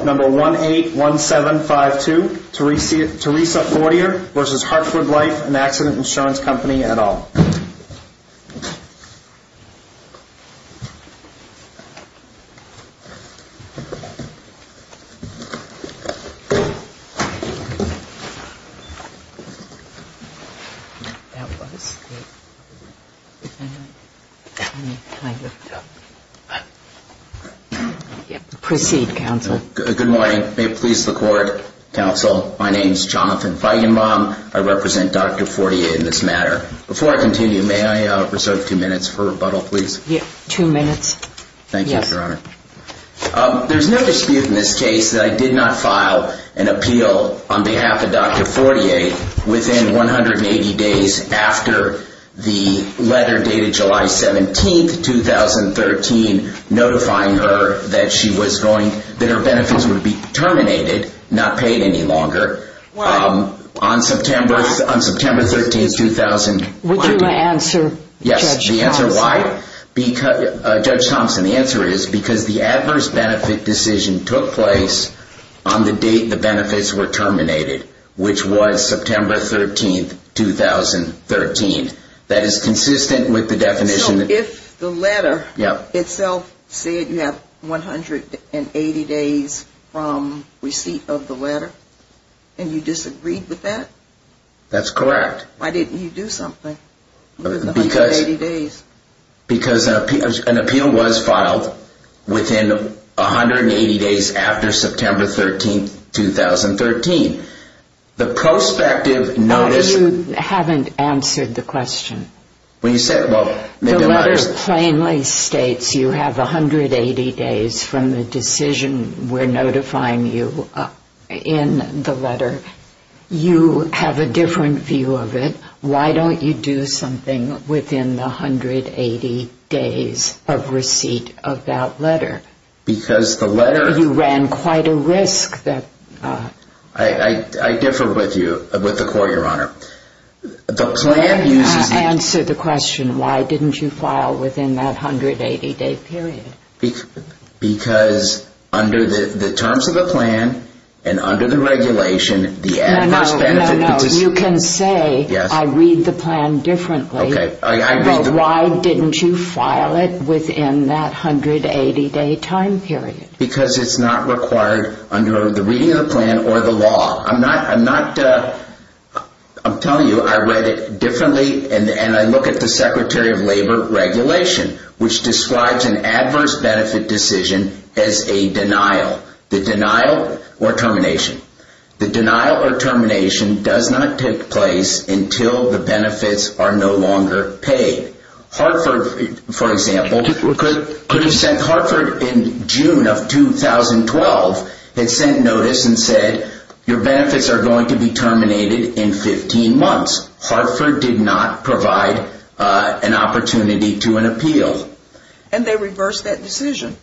181752 Teresa Fortier v. Hartford Life & Accident Insurance Company et al. Good morning. May it please the Court, Counsel, my name is Jonathan Feigenbaum. I represent Dr. Fortier in this matter. Before I continue, may I reserve two minutes for rebuttal, please? Yes, two minutes. Thank you, Your Honor. There is no dispute in this case that I did not file an appeal on behalf of Dr. Fortier within 180 days after the letter dated July 17, 2013, notifying her that her benefits would be terminated, not paid any longer. Why? On September 13, 2013. Would you answer, Judge Thompson? Yes, the answer why? Judge Thompson, the answer is because the adverse benefit decision took place on the date the benefits were terminated, which was September 13, 2013. That is consistent with the definition. So, if the letter itself said you have 180 days from receipt of the letter? Okay. Okay. Okay. Okay. Okay. Okay. Okay. Okay. Okay. Okay. Okay. Okay. Okay, okay. Okay. Okay. And you disagreed with that? That is correct. Why did not you do something that you had 180 days? Because an appeal was filed within 180 days after September 13, 2013. The prospective notice Why you have not answered the question? The letter plainly states you have 180 days from the decision we're notifying you in the letter. You have a different view of it. Why don't you do something within the 180 days of receipt of that letter? Because the letter... You ran quite a risk that... The plan uses... Answer the question. Why didn't you file within that 180-day period? Because under the terms of the plan and under the regulation, the adverse benefits... No, no, no. You can say, I read the plan differently. But why didn't you file it within that 180-day time period? Because it's not required under the reading of the plan or the law. I'm not... I'm telling you I read it differently and I look at the Secretary of Labor regulation, which describes an adverse benefit decision as a denial. The denial or termination. The denial or termination does not take place until the benefits are no longer paid. Hartford, for example, could have sent... The benefits are going to be terminated in 15 months. Hartford did not provide an opportunity to an appeal. And they reversed that decision.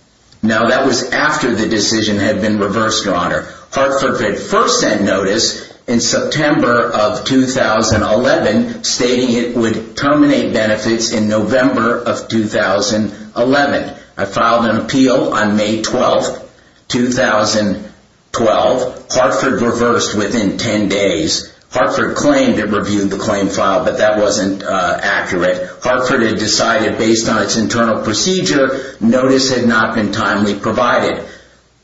No, that was after the decision had been reversed, Your Honor. Hartford had first sent notice in September of 2011, stating it would terminate benefits in November of 2011. I filed an appeal on May 12, 2012. Hartford reversed within 10 days. Hartford claimed it reviewed the claim file, but that wasn't accurate. Hartford had decided, based on its internal procedure, notice had not been timely provided.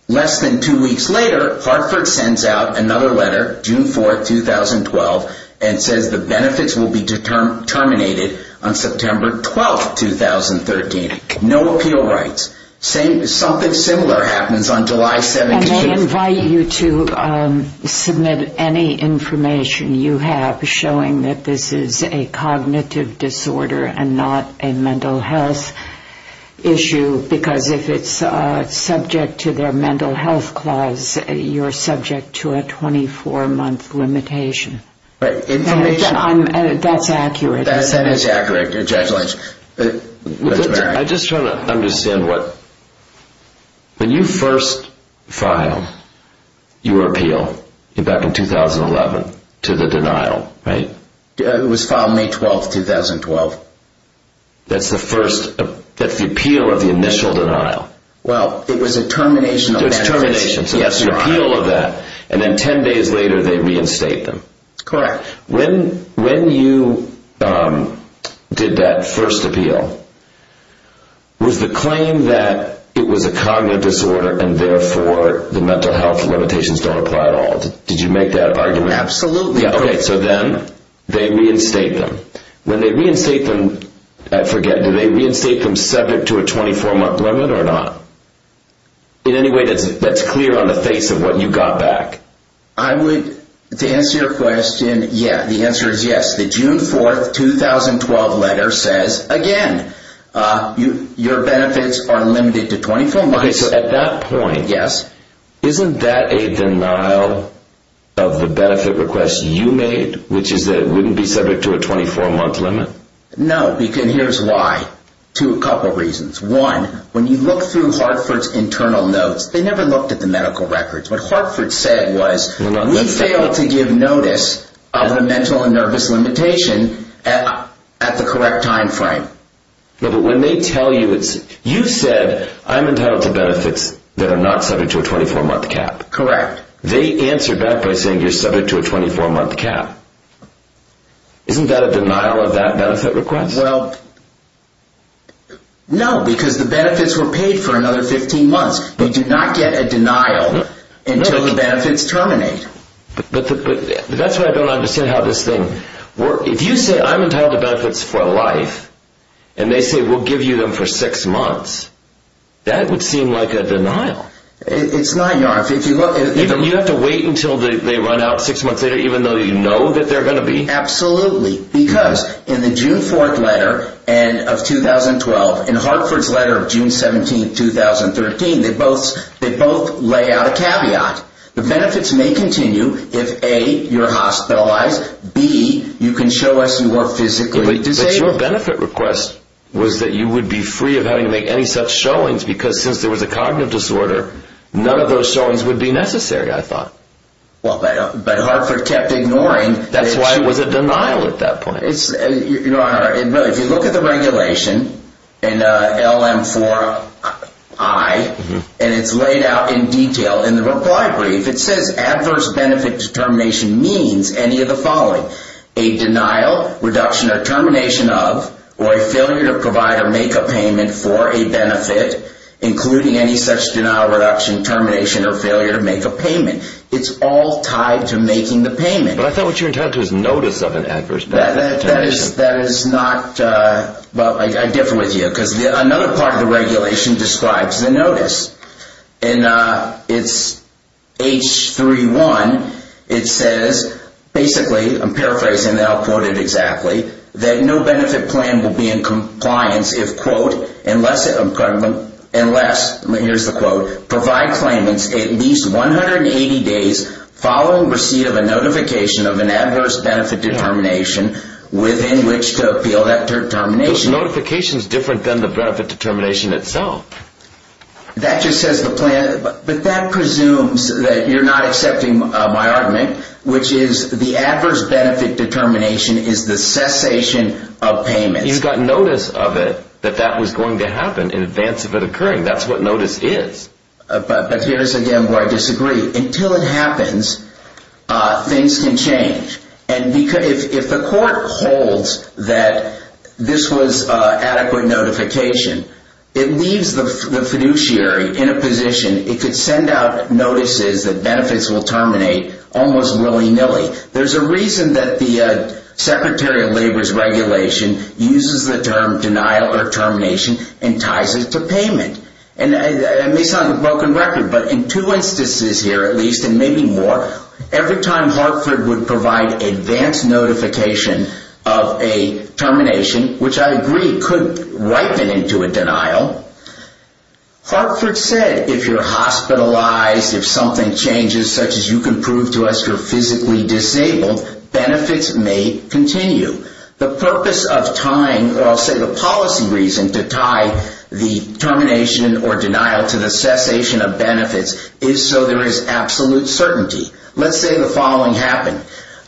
Less than two weeks later, Hartford sends out another letter, June 4, 2012, and says the benefits will be terminated on September 12, 2013. No appeal rights. Something similar happens on July 7, 2012. You submit any information you have showing that this is a cognitive disorder and not a mental health issue, because if it's subject to their mental health clause, you're subject to a 24-month limitation. Right. Information... That's accurate. That is accurate. Congratulations. I'm just trying to understand what... When you first filed your appeal, back in 2011, to the denial, right? It was filed May 12, 2012. That's the first... that's the appeal of the initial denial. Well, it was a termination of benefits. It was termination, so that's an appeal of that. And then 10 days later, they reinstate them. Correct. When you did that first appeal, was the claim that it was a cognitive disorder and therefore the mental health limitations don't apply at all? Did you make that argument? Absolutely. Okay, so then they reinstate them. When they reinstate them, I forget, do they reinstate them subject to a 24-month limit or not? In any way that's clear on the face of what you got back? I would... to answer your question, yeah, the answer is yes. The June 4, 2012 letter says, again, your benefits are limited to 24 months. Okay, so at that point... Yes. Isn't that a denial of the benefit request you made, which is that it wouldn't be subject to a 24-month limit? No, because here's why. Two... a couple reasons. One, when you look through Hartford's internal notes, they never looked at the medical records. What Hartford said was, we fail to give notice of the mental and nervous limitation at the correct time frame. But when they tell you... you said, I'm entitled to benefits that are not subject to a 24-month cap. Correct. They answer back by saying you're subject to a 24-month cap. Isn't that a denial of that benefit request? Well, no, because the benefits were paid for another 15 months. They do not get a denial until the benefits terminate. But that's why I don't understand how this thing works. If you say, I'm entitled to benefits for life, and they say we'll give you them for six months, that would seem like a denial. It's not, Your Honor. You have to wait until they run out six months later, even though you know that they're going to be? Absolutely. Because in the June 4th letter of 2012, in Hartford's letter of June 17, 2013, they both lay out a caveat. The benefits may continue if, A, you're hospitalized, B, you can show us you are physically disabled. But your benefit request was that you would be free of having to make any such showings, because since there was a cognitive disorder, none of those showings would be necessary, I thought. But Hartford kept ignoring. That's why it was a denial at that point. Your Honor, if you look at the regulation in LM4I, and it's laid out in detail in the reply brief, it says adverse benefit determination means any of the following. A denial, reduction, or termination of, or a failure to provide or make a payment for a benefit, including any such denial, reduction, termination, or failure to make a payment. It's all tied to making the payment. But I thought what you're referring to is notice of an adverse benefit determination. That is not, well, I differ with you, because another part of the regulation describes the notice. In H3-1, it says, basically, I'm paraphrasing that, I'll quote it exactly, that no benefit plan will be in compliance if, quote, unless, here's the quote, provide claimants at least 180 days following receipt of a notification of an adverse benefit determination within which to appeal that determination. The notification is different than the benefit determination itself. That just says the plan, but that presumes that you're not accepting my argument, which is the adverse benefit determination is the cessation of payments. He's got notice of it that that was going to happen in advance of it occurring. That's what notice is. But here's, again, where I disagree. Until it happens, things can change. And if the court holds that this was adequate notification, it leaves the fiduciary in a position, it could send out notices that benefits will terminate almost willy-nilly. There's a reason that the Secretary of Labor's regulation uses the term denial or termination and ties it to payment. And it may sound like a broken record, but in two instances here, at least, and maybe more, every time Hartford would provide advance notification of a termination, which I agree could ripen into a denial, Hartford said if you're hospitalized, if something changes, such as you can prove to us you're physically disabled, benefits may continue. The purpose of tying, or I'll say the policy reason to tie the termination or denial to the cessation of benefits is so there is absolute certainty. Let's say the following happened.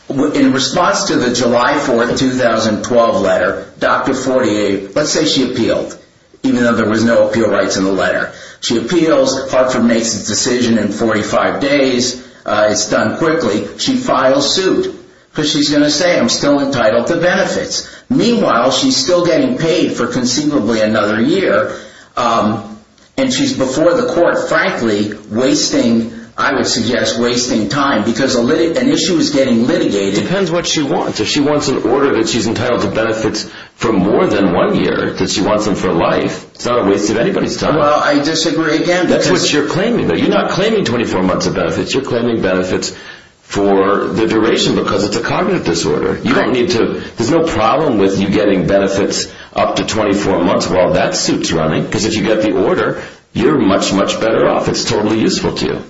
In response to the July 4, 2012 letter, Dr. Fortier, let's say she appealed, even though there was no appeal rights in the letter. She appeals, Hartford makes his decision in 45 days, it's done quickly. She files suit because she's going to say I'm still entitled to benefits. Meanwhile, she's still getting paid for conceivably another year, and she's before the court, frankly, wasting, I would suggest, wasting time because an issue is getting litigated. It depends what she wants. If she wants an order that she's entitled to benefits for more than one year, that she wants them for life, it's not a waste of anybody's time. Well, I disagree again. That's what you're claiming. You're not claiming 24 months of benefits. You're claiming benefits for the duration because it's a cognitive disorder. There's no problem with you getting benefits up to 24 months while that suit's running because if you get the order, you're much, much better off. It's totally useful to you.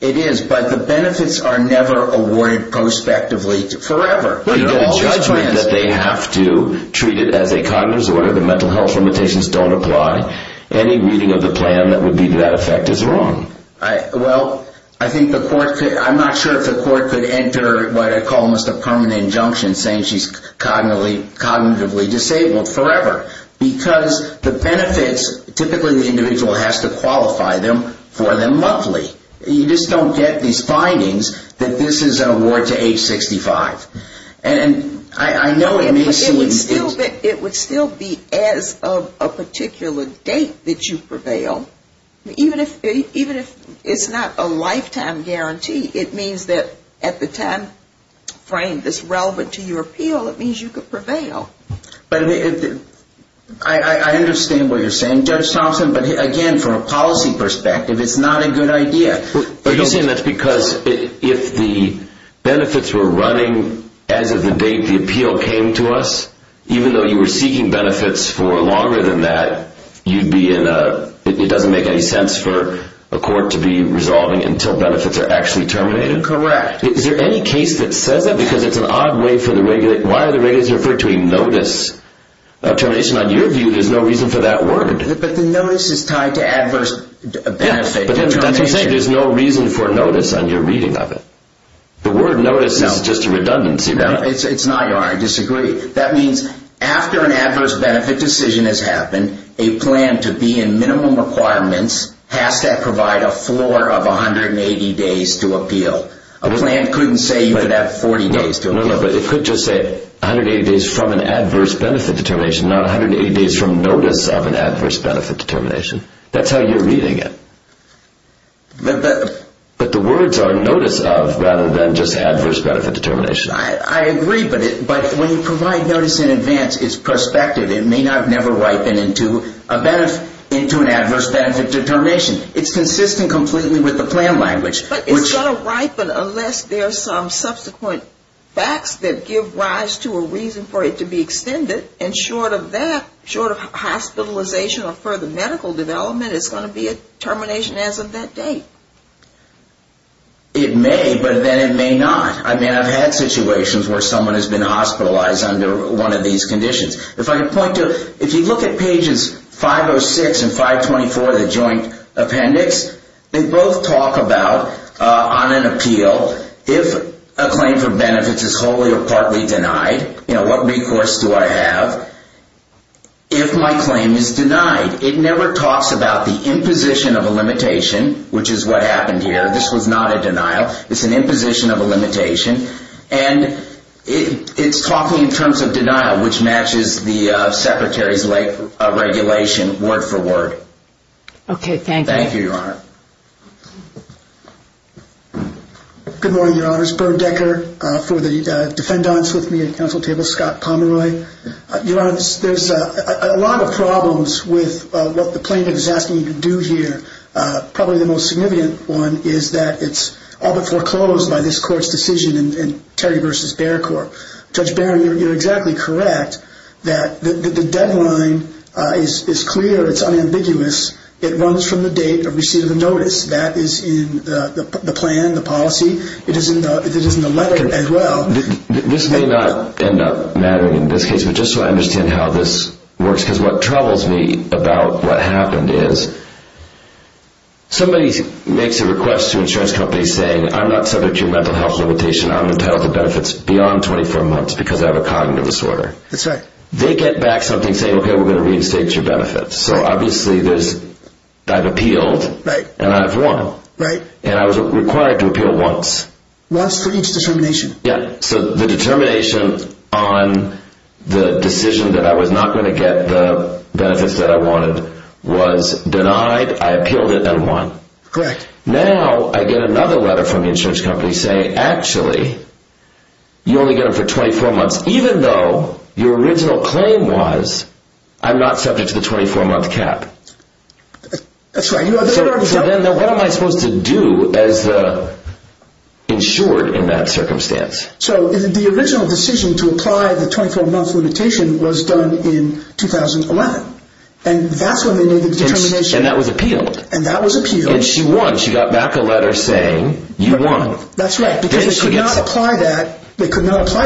It is, but the benefits are never awarded prospectively forever. You get a judgment that they have to treat it as a cognitive disorder. The mental health limitations don't apply. Any reading of the plan that would be to that effect is wrong. Well, I'm not sure if the court could enter what I call a permanent injunction saying she's cognitively disabled forever because the benefits, typically the individual has to qualify them for them monthly. You just don't get these findings that this is an award to age 65. It would still be as of a particular date that you prevail. Even if it's not a lifetime guarantee, it means that at the timeframe that's relevant to your appeal, it means you could prevail. I understand what you're saying, Judge Thompson, but again, from a policy perspective, it's not a good idea. Are you saying that's because if the benefits were running as of the date the appeal came to us, even though you were seeking benefits for longer than that, it doesn't make any sense for a court to be resolving until benefits are actually terminated? Correct. Is there any case that says that? Because it's an odd way for the regulator. Why are the regulators referring to a notice of termination? On your view, there's no reason for that word. But the notice is tied to adverse benefits. But that's what I'm saying. There's no reason for notice on your reading of it. The word notice is just a redundancy. It's not, Your Honor. I disagree. That means after an adverse benefit decision has happened, a plan to be in minimum requirements has to provide a floor of 180 days to appeal. A plan couldn't say you could have 40 days to appeal. No, but it could just say 180 days from an adverse benefit determination, not 180 days from notice of an adverse benefit determination. That's how you're reading it. But the words are notice of rather than just adverse benefit determination. I agree, but when you provide notice in advance, it's prospective. It may not never ripen into an adverse benefit determination. It's consistent completely with the plan language. But it's going to ripen unless there are some subsequent facts that give rise to a reason for it to be extended. And short of that, short of hospitalization or further medical development, it's going to be a determination as of that date. It may, but then it may not. I mean, I've had situations where someone has been hospitalized under one of these conditions. If I can point to, if you look at pages 506 and 524 of the joint appendix, they both talk about on an appeal, if a claim for benefits is wholly or partly denied, what recourse do I have if my claim is denied? It never talks about the imposition of a limitation, which is what happened here. This was not a denial. It's an imposition of a limitation. And it's talking in terms of denial, which matches the Secretary's regulation word for word. Okay, thank you. Thank you, Your Honor. Good morning, Your Honors. Burr Decker for the defendants with me at the council table. Scott Pomeroy. Your Honor, there's a lot of problems with what the plaintiff is asking you to do here. Probably the most significant one is that it's all but foreclosed by this court's decision in Terry v. Baird Court. Judge Baird, you're exactly correct that the deadline is clear. It's unambiguous. It runs from the date of receipt of the notice. That is in the plan, the policy. It is in the letter as well. This may not end up mattering in this case, but just so I understand how this works, because what troubles me about what happened is somebody makes a request to an insurance company saying, I'm not subject to a mental health limitation. I'm entitled to benefits beyond 24 months because I have a cognitive disorder. That's right. They get back something saying, okay, we're going to reinstate your benefits. So obviously I've appealed, and I've won. And I was required to appeal once. Once for each determination. So the determination on the decision that I was not going to get the benefits that I wanted was denied. I appealed it and won. Correct. Now I get another letter from the insurance company saying, actually, you only get them for 24 months, even though your original claim was, I'm not subject to the 24-month cap. That's right. So then what am I supposed to do as the insured in that circumstance? So the original decision to apply the 24-month limitation was done in 2011. And that's when they made the determination. And that was appealed. And that was appealed. And she won. She got back a letter saying, you won. That's right, because they could not apply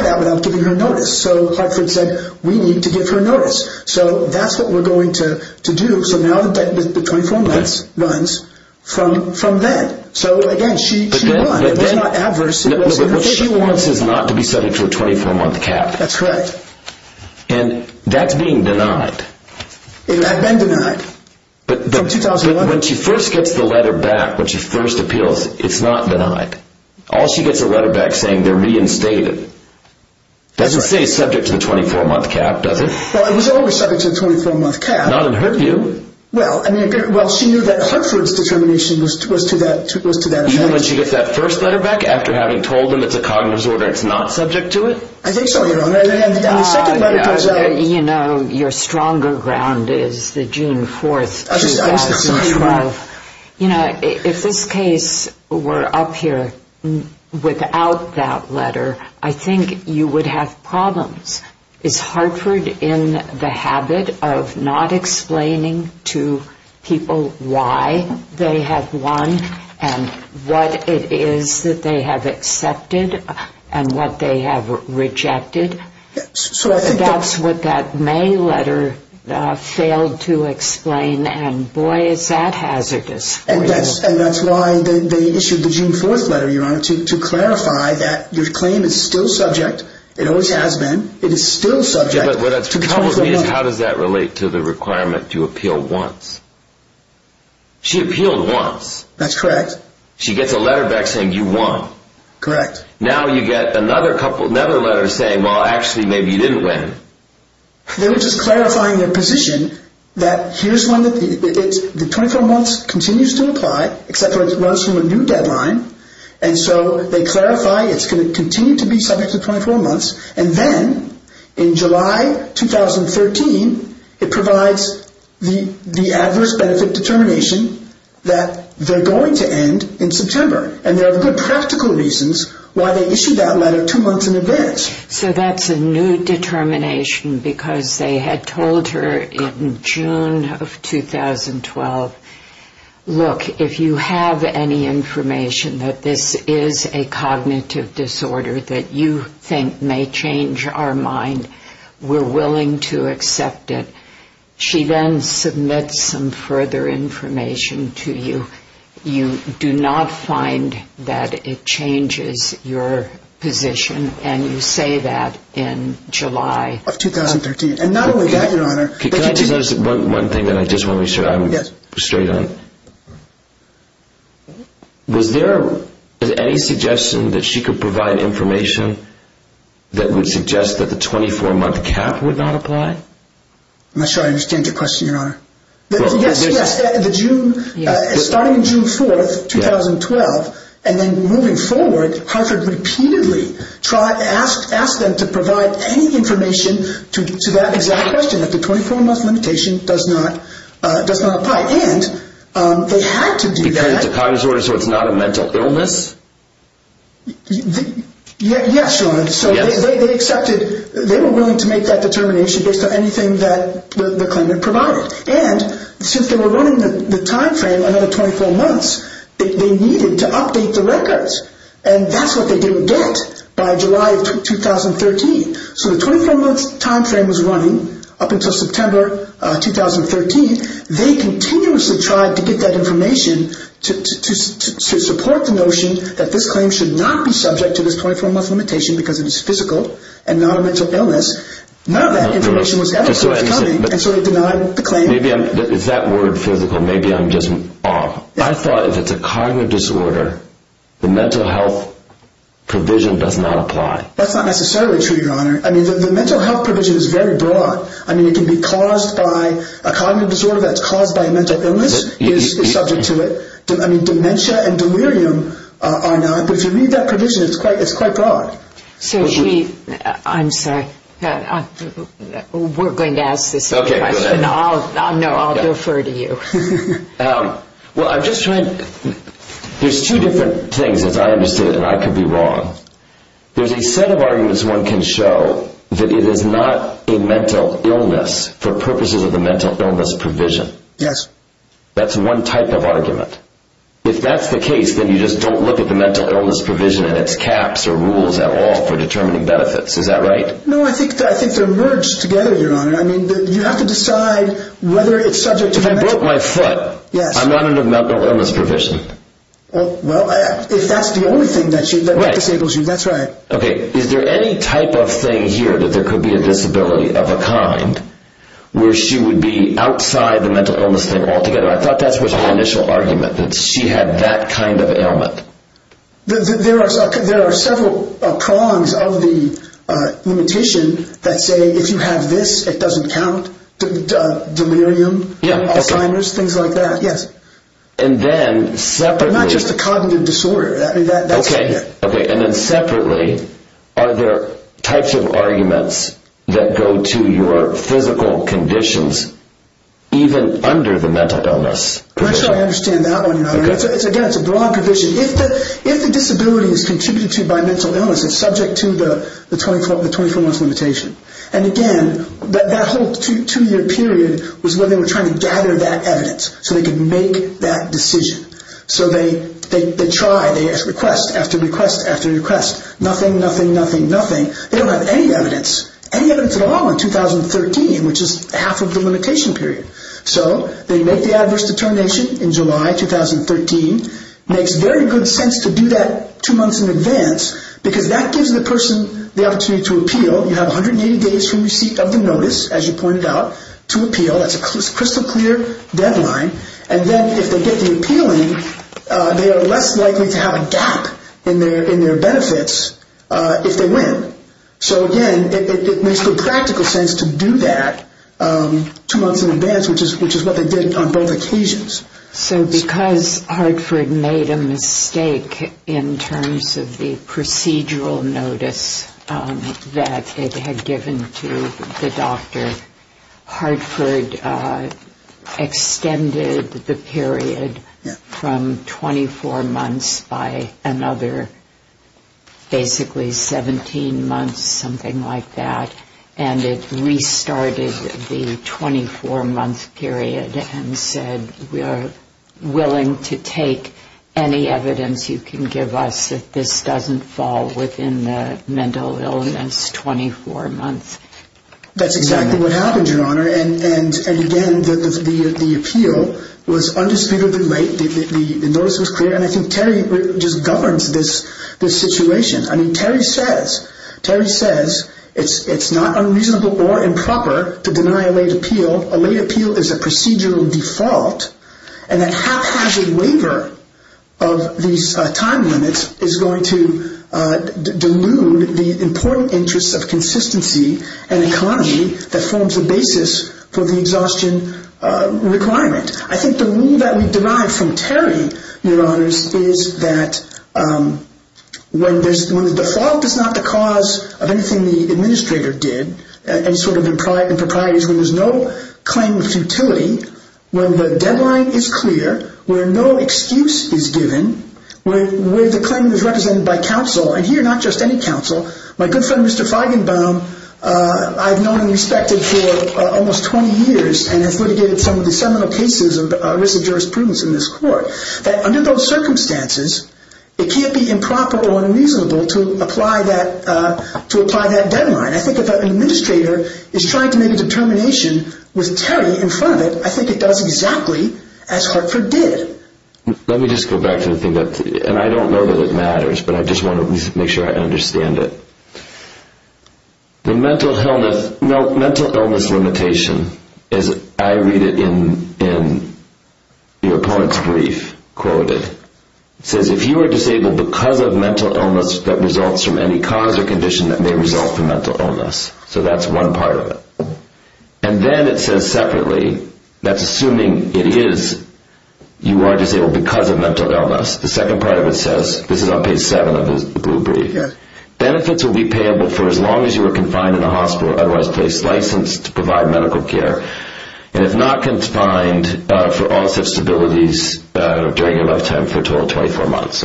that without giving her notice. So Hartford said, we need to give her notice. So that's what we're going to do. So now the 24 months runs from then. So again, she won. It was not adverse. So she can't be subject to a 24-month cap. That's correct. And that's being denied. It had been denied. But when she first gets the letter back, when she first appeals, it's not denied. All she gets is a letter back saying they're reinstated. Doesn't say subject to the 24-month cap, does it? Well, it was always subject to the 24-month cap. Not in her view. Well, she knew that Hartford's determination was to that effect. And then when she gets that first letter back, after having told them it's a cognitive disorder, it's not subject to it? I think so, Your Honor. And the second letter tells her... You know, your stronger ground is the June 4, 2012. You know, if this case were up here without that letter, I think you would have problems. Is Hartford in the habit of not explaining to people why they have won and what it is that they have accepted and what they have rejected? I think that's what that May letter failed to explain. And boy, is that hazardous. And that's why they issued the June 4 letter, Your Honor, to clarify that your claim is still subject. It always has been. It is still subject to the 24-month cap. How does that relate to the requirement to appeal once? She appealed once. That's correct. She gets a letter back saying you won. Correct. Now you get another letter saying, well, actually, maybe you didn't win. They were just clarifying their position that the 24-months continues to apply, except it runs from a new deadline. And so they clarify it's going to continue to be subject to 24 months. And then in July 2013, it provides the adverse benefit determination that they're going to end in September. And there are good practical reasons why they issued that letter two months in advance. So that's a new determination because they had told her in June of 2012, look, if you have any information that this is a cognitive disorder that you think may change our mind, we're willing to accept it. She then submits some further information to you. You do not find that it changes your position. And you say that in July of 2013. And not only that, Your Honor. Can I just add one thing that I just want to make sure I'm straight on? Was there any suggestion that she could provide information that would suggest that the 24-month cap would not apply? I'm not sure I understand your question, Your Honor. Yes, yes. Starting June 4, 2012, and then moving forward, Hartford repeatedly asked them to provide any information to that exact question, that the 24-month limitation does not apply. And they had to do that. Because it's a cognitive disorder, so it's not a mental illness? Yes, Your Honor. And so they accepted, they were willing to make that determination based on anything that the claimant provided. And since they were running the time frame, another 24 months, they needed to update the records. And that's what they didn't get by July of 2013. So the 24-month time frame was running up until September 2013. They continuously tried to get that information to support the notion that this claim should not be subject to this 24-month limitation because it is physical and not a mental illness. None of that information was coming, and so they denied the claim. Is that word physical? Maybe I'm just off. I thought if it's a cognitive disorder, the mental health provision does not apply. That's not necessarily true, Your Honor. I mean, the mental health provision is very broad. I mean, it can be caused by a cognitive disorder that's caused by a mental illness is subject to it. I mean, dementia and delirium are not, but if you read that provision, it's quite broad. So should we, I'm sorry, we're going to ask the same question. No, I'll defer to you. Well, I'm just trying, there's two different things that I understood and I could be wrong. There's a set of arguments one can show that it is not a mental illness for purposes of the mental illness provision. Yes. That's one type of argument. If that's the case, then you just don't look at the mental illness provision and its caps or rules at all for determining benefits. Is that right? No, I think they're merged together, Your Honor. I mean, you have to decide whether it's subject to the mental... Because I broke my foot. I'm not under the mental illness provision. Well, if that's the only thing that disables you, that's right. Okay, is there any type of thing here that there could be a disability of a kind where she would be outside the mental illness thing altogether? I thought that was the initial argument, that she had that kind of ailment. There are several prongs of the limitation that say if you have this, it doesn't count, delirium, Alzheimer's, things like that, yes. And then separately... But not just a cognitive disorder. Okay, and then separately, are there types of arguments that go to your physical conditions even under the mental illness provision? I'm not sure I understand that one, Your Honor. Again, it's a broad provision. If the disability is contributed to by mental illness, it's subject to the 24-month limitation. And again, that whole two-year period was where they were trying to gather that evidence so they could make that decision. So they try, they request after request after request. Nothing, nothing, nothing, nothing. They don't have any evidence, any evidence at all in 2013, which is half of the limitation period. So they make the adverse determination in July 2013. It makes very good sense to do that two months in advance because that gives the person the opportunity to appeal. They have 30 days from receipt of the notice, as you pointed out, to appeal. That's a crystal clear deadline. And then if they get the appealing, they are less likely to have a gap in their benefits if they win. So again, it makes good practical sense to do that two months in advance, which is what they did on both occasions. So because Hartford made a mistake in terms of the procedural notice that it had given to the doctor, Hartford extended the period from 24 months by another basically 17 months, something like that. And it restarted the 24-month period and said we are willing to take any evidence you can give us that this doesn't fall within the mental illness 24 months. That's exactly what happened, Your Honor. And again, the appeal was undisputedly right. The notice was clear. And I think Terry just governs this situation. I mean, Terry says it's not unreasonable or improper to deny a late appeal. A late appeal is a procedural default. And that haphazard waiver of these time limits is going to delude the important interests of consistency and economy that forms the basis for the exhaustion requirement. I think the rule that we deny from Terry, Your Honors, is that when the default is not the cause of anything the administrator did, any sort of improprieties, when there is no claim of futility, when the deadline is clear, where no excuse is given, where the claim is represented by counsel, and here not just any counsel. My good friend, Mr. Feigenbaum, I've known and respected for almost 20 years and have litigated some of the seminal cases of risk of jurisprudence in this court. Under those circumstances, it can't be improper or unreasonable to apply that deadline. I think if an administrator is trying to make a determination with Terry in front of it, I think it does exactly as Hartford did. Let me just go back to the thing that, and I don't know that it matters, but I just want to make sure I understand it. The mental illness limitation, as I read it in your opponent's brief, quoted, says if you are disabled because of mental illness that results from any cause or condition that may result from mental illness. So that's one part of it. And then it says separately, that's assuming it is, you are disabled because of mental illness. The second part of it says, this is on page 7 of the blue brief. Benefits will be payable for as long as you are confined in the hospital, otherwise placed licensed to provide medical care. And if not confined, for all such abilities, during your lifetime for a total of 24 months.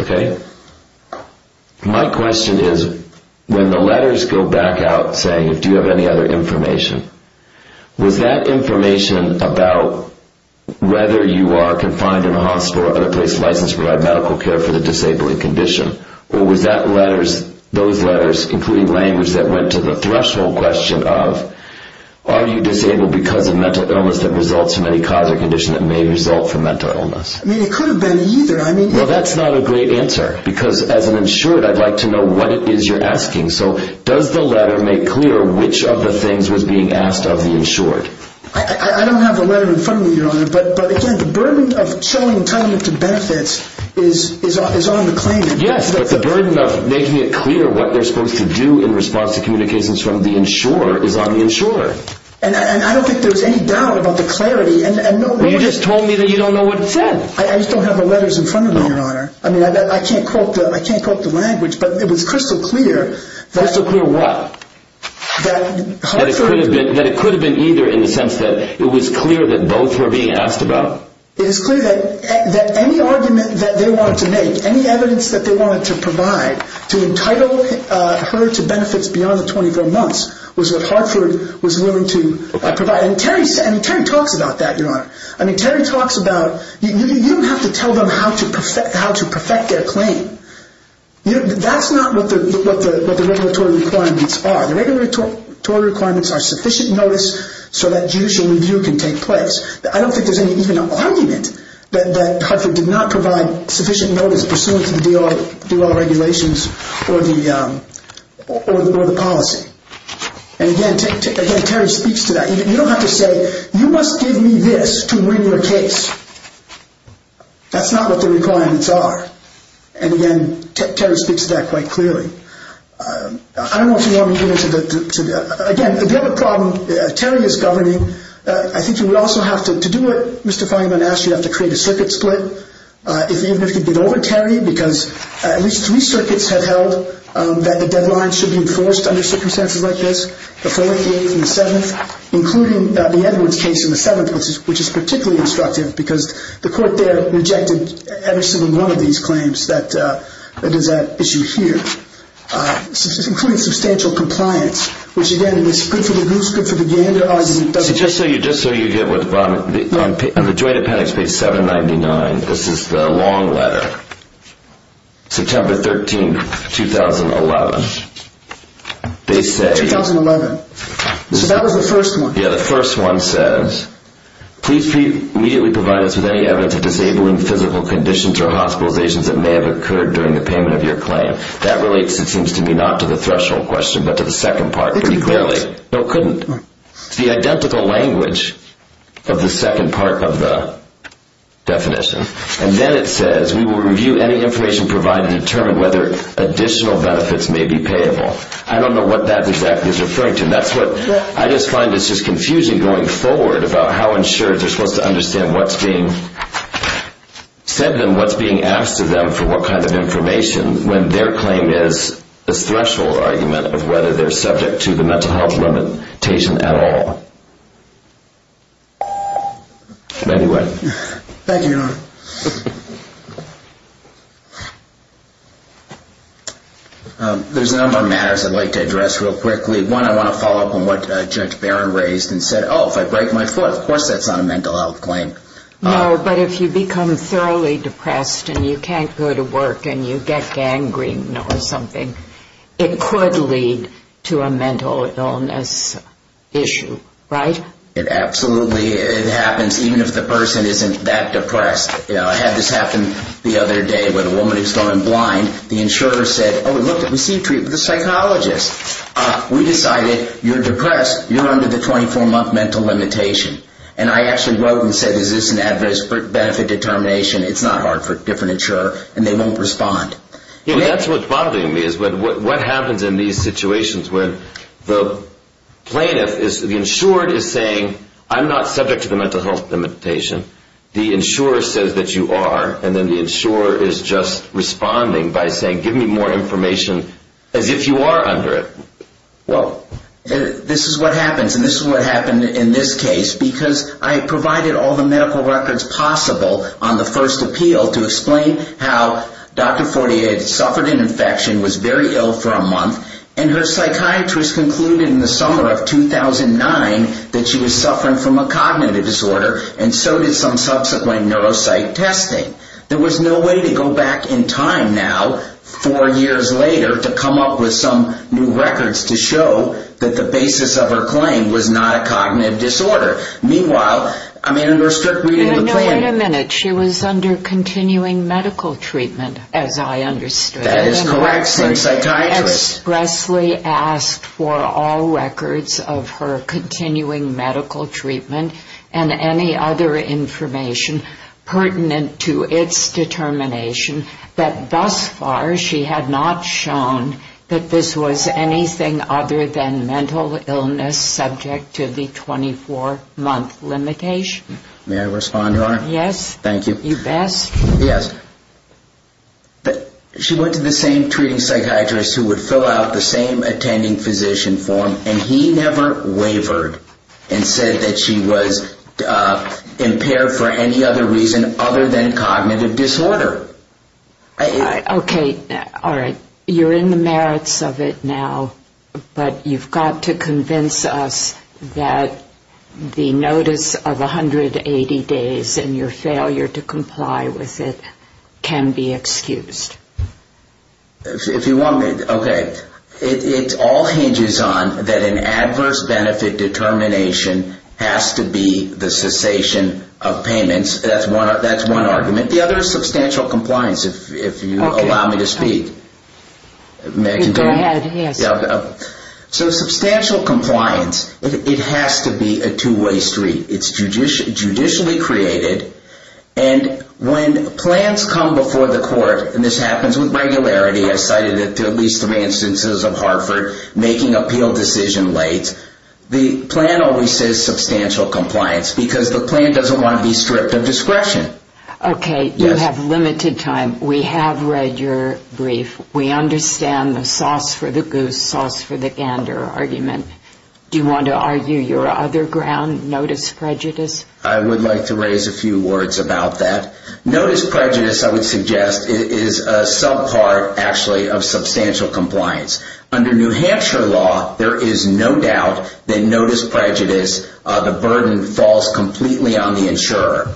My question is, when the letters go back out saying, do you have any other information? Was that information about whether you are confined in a hospital, otherwise licensed to provide medical care for the disabled condition? Or was that letters, those letters, including language that went to the threshold question of, are you disabled because of mental illness that results from any cause or condition that may result from mental illness? It could have been either. That's a good answer, because as an insured, I'd like to know what it is you're asking. So does the letter make clear which of the things was being asked of the insured? I don't have the letter in front of me, your honor. But again, the burden of showing entitlement to benefits is on the claimant. Yes, but the burden of making it clear what they're supposed to do in response to communications from the insurer is on the insurer. And I don't think there's any doubt about the clarity. You just told me that you don't know what it said. I just don't have the letters in front of me, your honor. I mean, I can't quote the language, but it was crystal clear. Crystal clear what? That it could have been either in the sense that it was clear that both were being asked about. It is clear that any argument that they wanted to make, any evidence that they wanted to provide to entitle her to benefits beyond the 24 months was what Hartford was willing to provide. And Terry talks about that, your honor. I mean, Terry talks about, you don't have to tell them how to perfect their claim. That's not what the regulatory requirements are. The regulatory requirements are sufficient notice so that judicial review can take place. I don't think there's even an argument that Hartford did not provide sufficient notice pursuant to the DOL regulations or the policy. And again, Terry speaks to that. I mean, you don't have to say, you must give me this to win your case. That's not what the requirements are. And again, Terry speaks to that quite clearly. I don't know if you want me to get into the, again, if you have a problem, Terry is governing. I think you would also have to, to do it, Mr. Feinman asked you have to create a circuit split. Even if you did over Terry, because at least three circuits have held that the deadline should be enforced under circumstances like this. The Foley case on the 7th, including the Edwards case on the 7th, which is particularly instructive, because the court there rejected every single one of these claims that does that issue here. Including substantial compliance, which again is good for the goose, good for the gander. So just so you get what the bottom, on the joint appendix page 799, this is the long letter. September 13th, 2011. They say. So that was the first one. Yeah, the first one says, please immediately provide us with any evidence of disabling physical conditions or hospitalizations that may have occurred during the payment of your claim. That relates, it seems to me, not to the threshold question, but to the second part pretty clearly. No, it couldn't. It's the identical language of the second part of the definition. And then it says, we will review any information provided and determine whether additional benefits may be payable. I don't know what that exactly is referring to. And that's what I just find is just confusing going forward about how insurers are supposed to understand what's being said to them, what's being asked of them for what kind of information when their claim is a threshold argument of whether they're subject to the mental health limitation at all. Anyway. Thank you. There's a number of matters I'd like to address real quickly. One, I want to follow up on what Judge Barron raised and said, oh, if I break my foot, of course that's not a mental health claim. No, but if you become thoroughly depressed and you can't go to work and you get gangrene or something, it could lead to a mental illness issue, right? It absolutely happens, even if the person isn't that depressed. I had this happen the other day with a woman who was going blind. The insurer said, oh, we received treatment with a psychologist. We decided you're depressed, you're under the 24-month mental limitation. And I actually wrote and said, is this an adverse benefit determination? It's not hard for a different insurer. And they won't respond. That's what's bothering me is what happens in these situations when the plaintiff, the insured is saying, I'm not subject to the mental health limitation. The insurer says that you are. And then the insurer is just responding by saying, give me more information as if you are under it. Well, this is what happens. And this is what happened in this case. Because I provided all the medical records possible on the first appeal to explain how Dr. Fortier had suffered an infection, was very ill for a month. And her psychiatrist concluded in the summer of 2009 that she was suffering from a cognitive disorder. And so did some subsequent neuropsych testing. There was no way to go back in time now, four years later, to come up with some new records to show that the basis of her claim was not a cognitive disorder. Meanwhile, I mean, in her strict reading of the claim. No, wait a minute. She was under continuing medical treatment, as I understood. That is correct. She expressly asked for all records of her continuing medical treatment and any other information pertinent to its determination that thus far she had not shown that this was anything other than mental illness subject to the 24-month limitation. May I respond, Your Honor? Yes. Thank you. You best. Yes. She went to the same treating psychiatrist who would fill out the same attending physician form, and he never wavered and said that she was impaired for any other reason other than cognitive disorder. Okay. All right. You're in the merits of it now, but you've got to convince us that the notice of 180 days and your failure to comply with it can be excused. If you want me, okay. It all hinges on that an adverse benefit determination has to be the cessation of payments. That's one argument. The other is substantial compliance, if you allow me to speak. Okay. May I continue? Go ahead. Yes. So substantial compliance, it has to be a two-way street. It's judicially created, and when plans come before the court, and this happens with regularity. I cited it to at least three instances of Hartford making appeal decision late. The plan always says substantial compliance because the plan doesn't want to be stripped of discretion. Okay. You have limited time. We have read your brief. We understand the sauce for the goose, sauce for the gander argument. Do you want to argue your other ground, notice prejudice? I would like to raise a few words about that. Notice prejudice, I would suggest, is a subpart, actually, of substantial compliance. Under New Hampshire law, there is no doubt that notice prejudice, the burden falls completely on the insurer.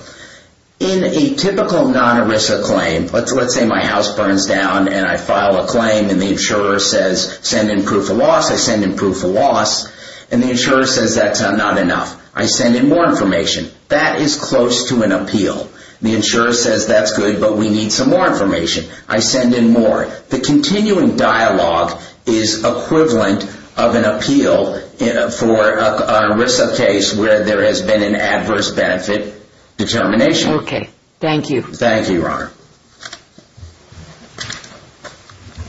In a typical non-ERISA claim, let's say my house burns down and I file a claim and the insurer says send in proof of loss. I send in proof of loss, and the insurer says that's not enough. I send in more information. That is close to an appeal. The insurer says that's good, but we need some more information. I send in more. The continuing dialogue is equivalent of an appeal for a RISA case where there has been an adverse benefit determination. Okay. Thank you. Thank you, Your Honor.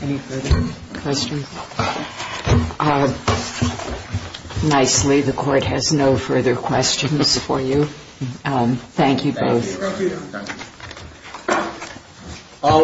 Any further questions? Nicely, the court has no further questions for you. Thank you both. Thank you. Thank you.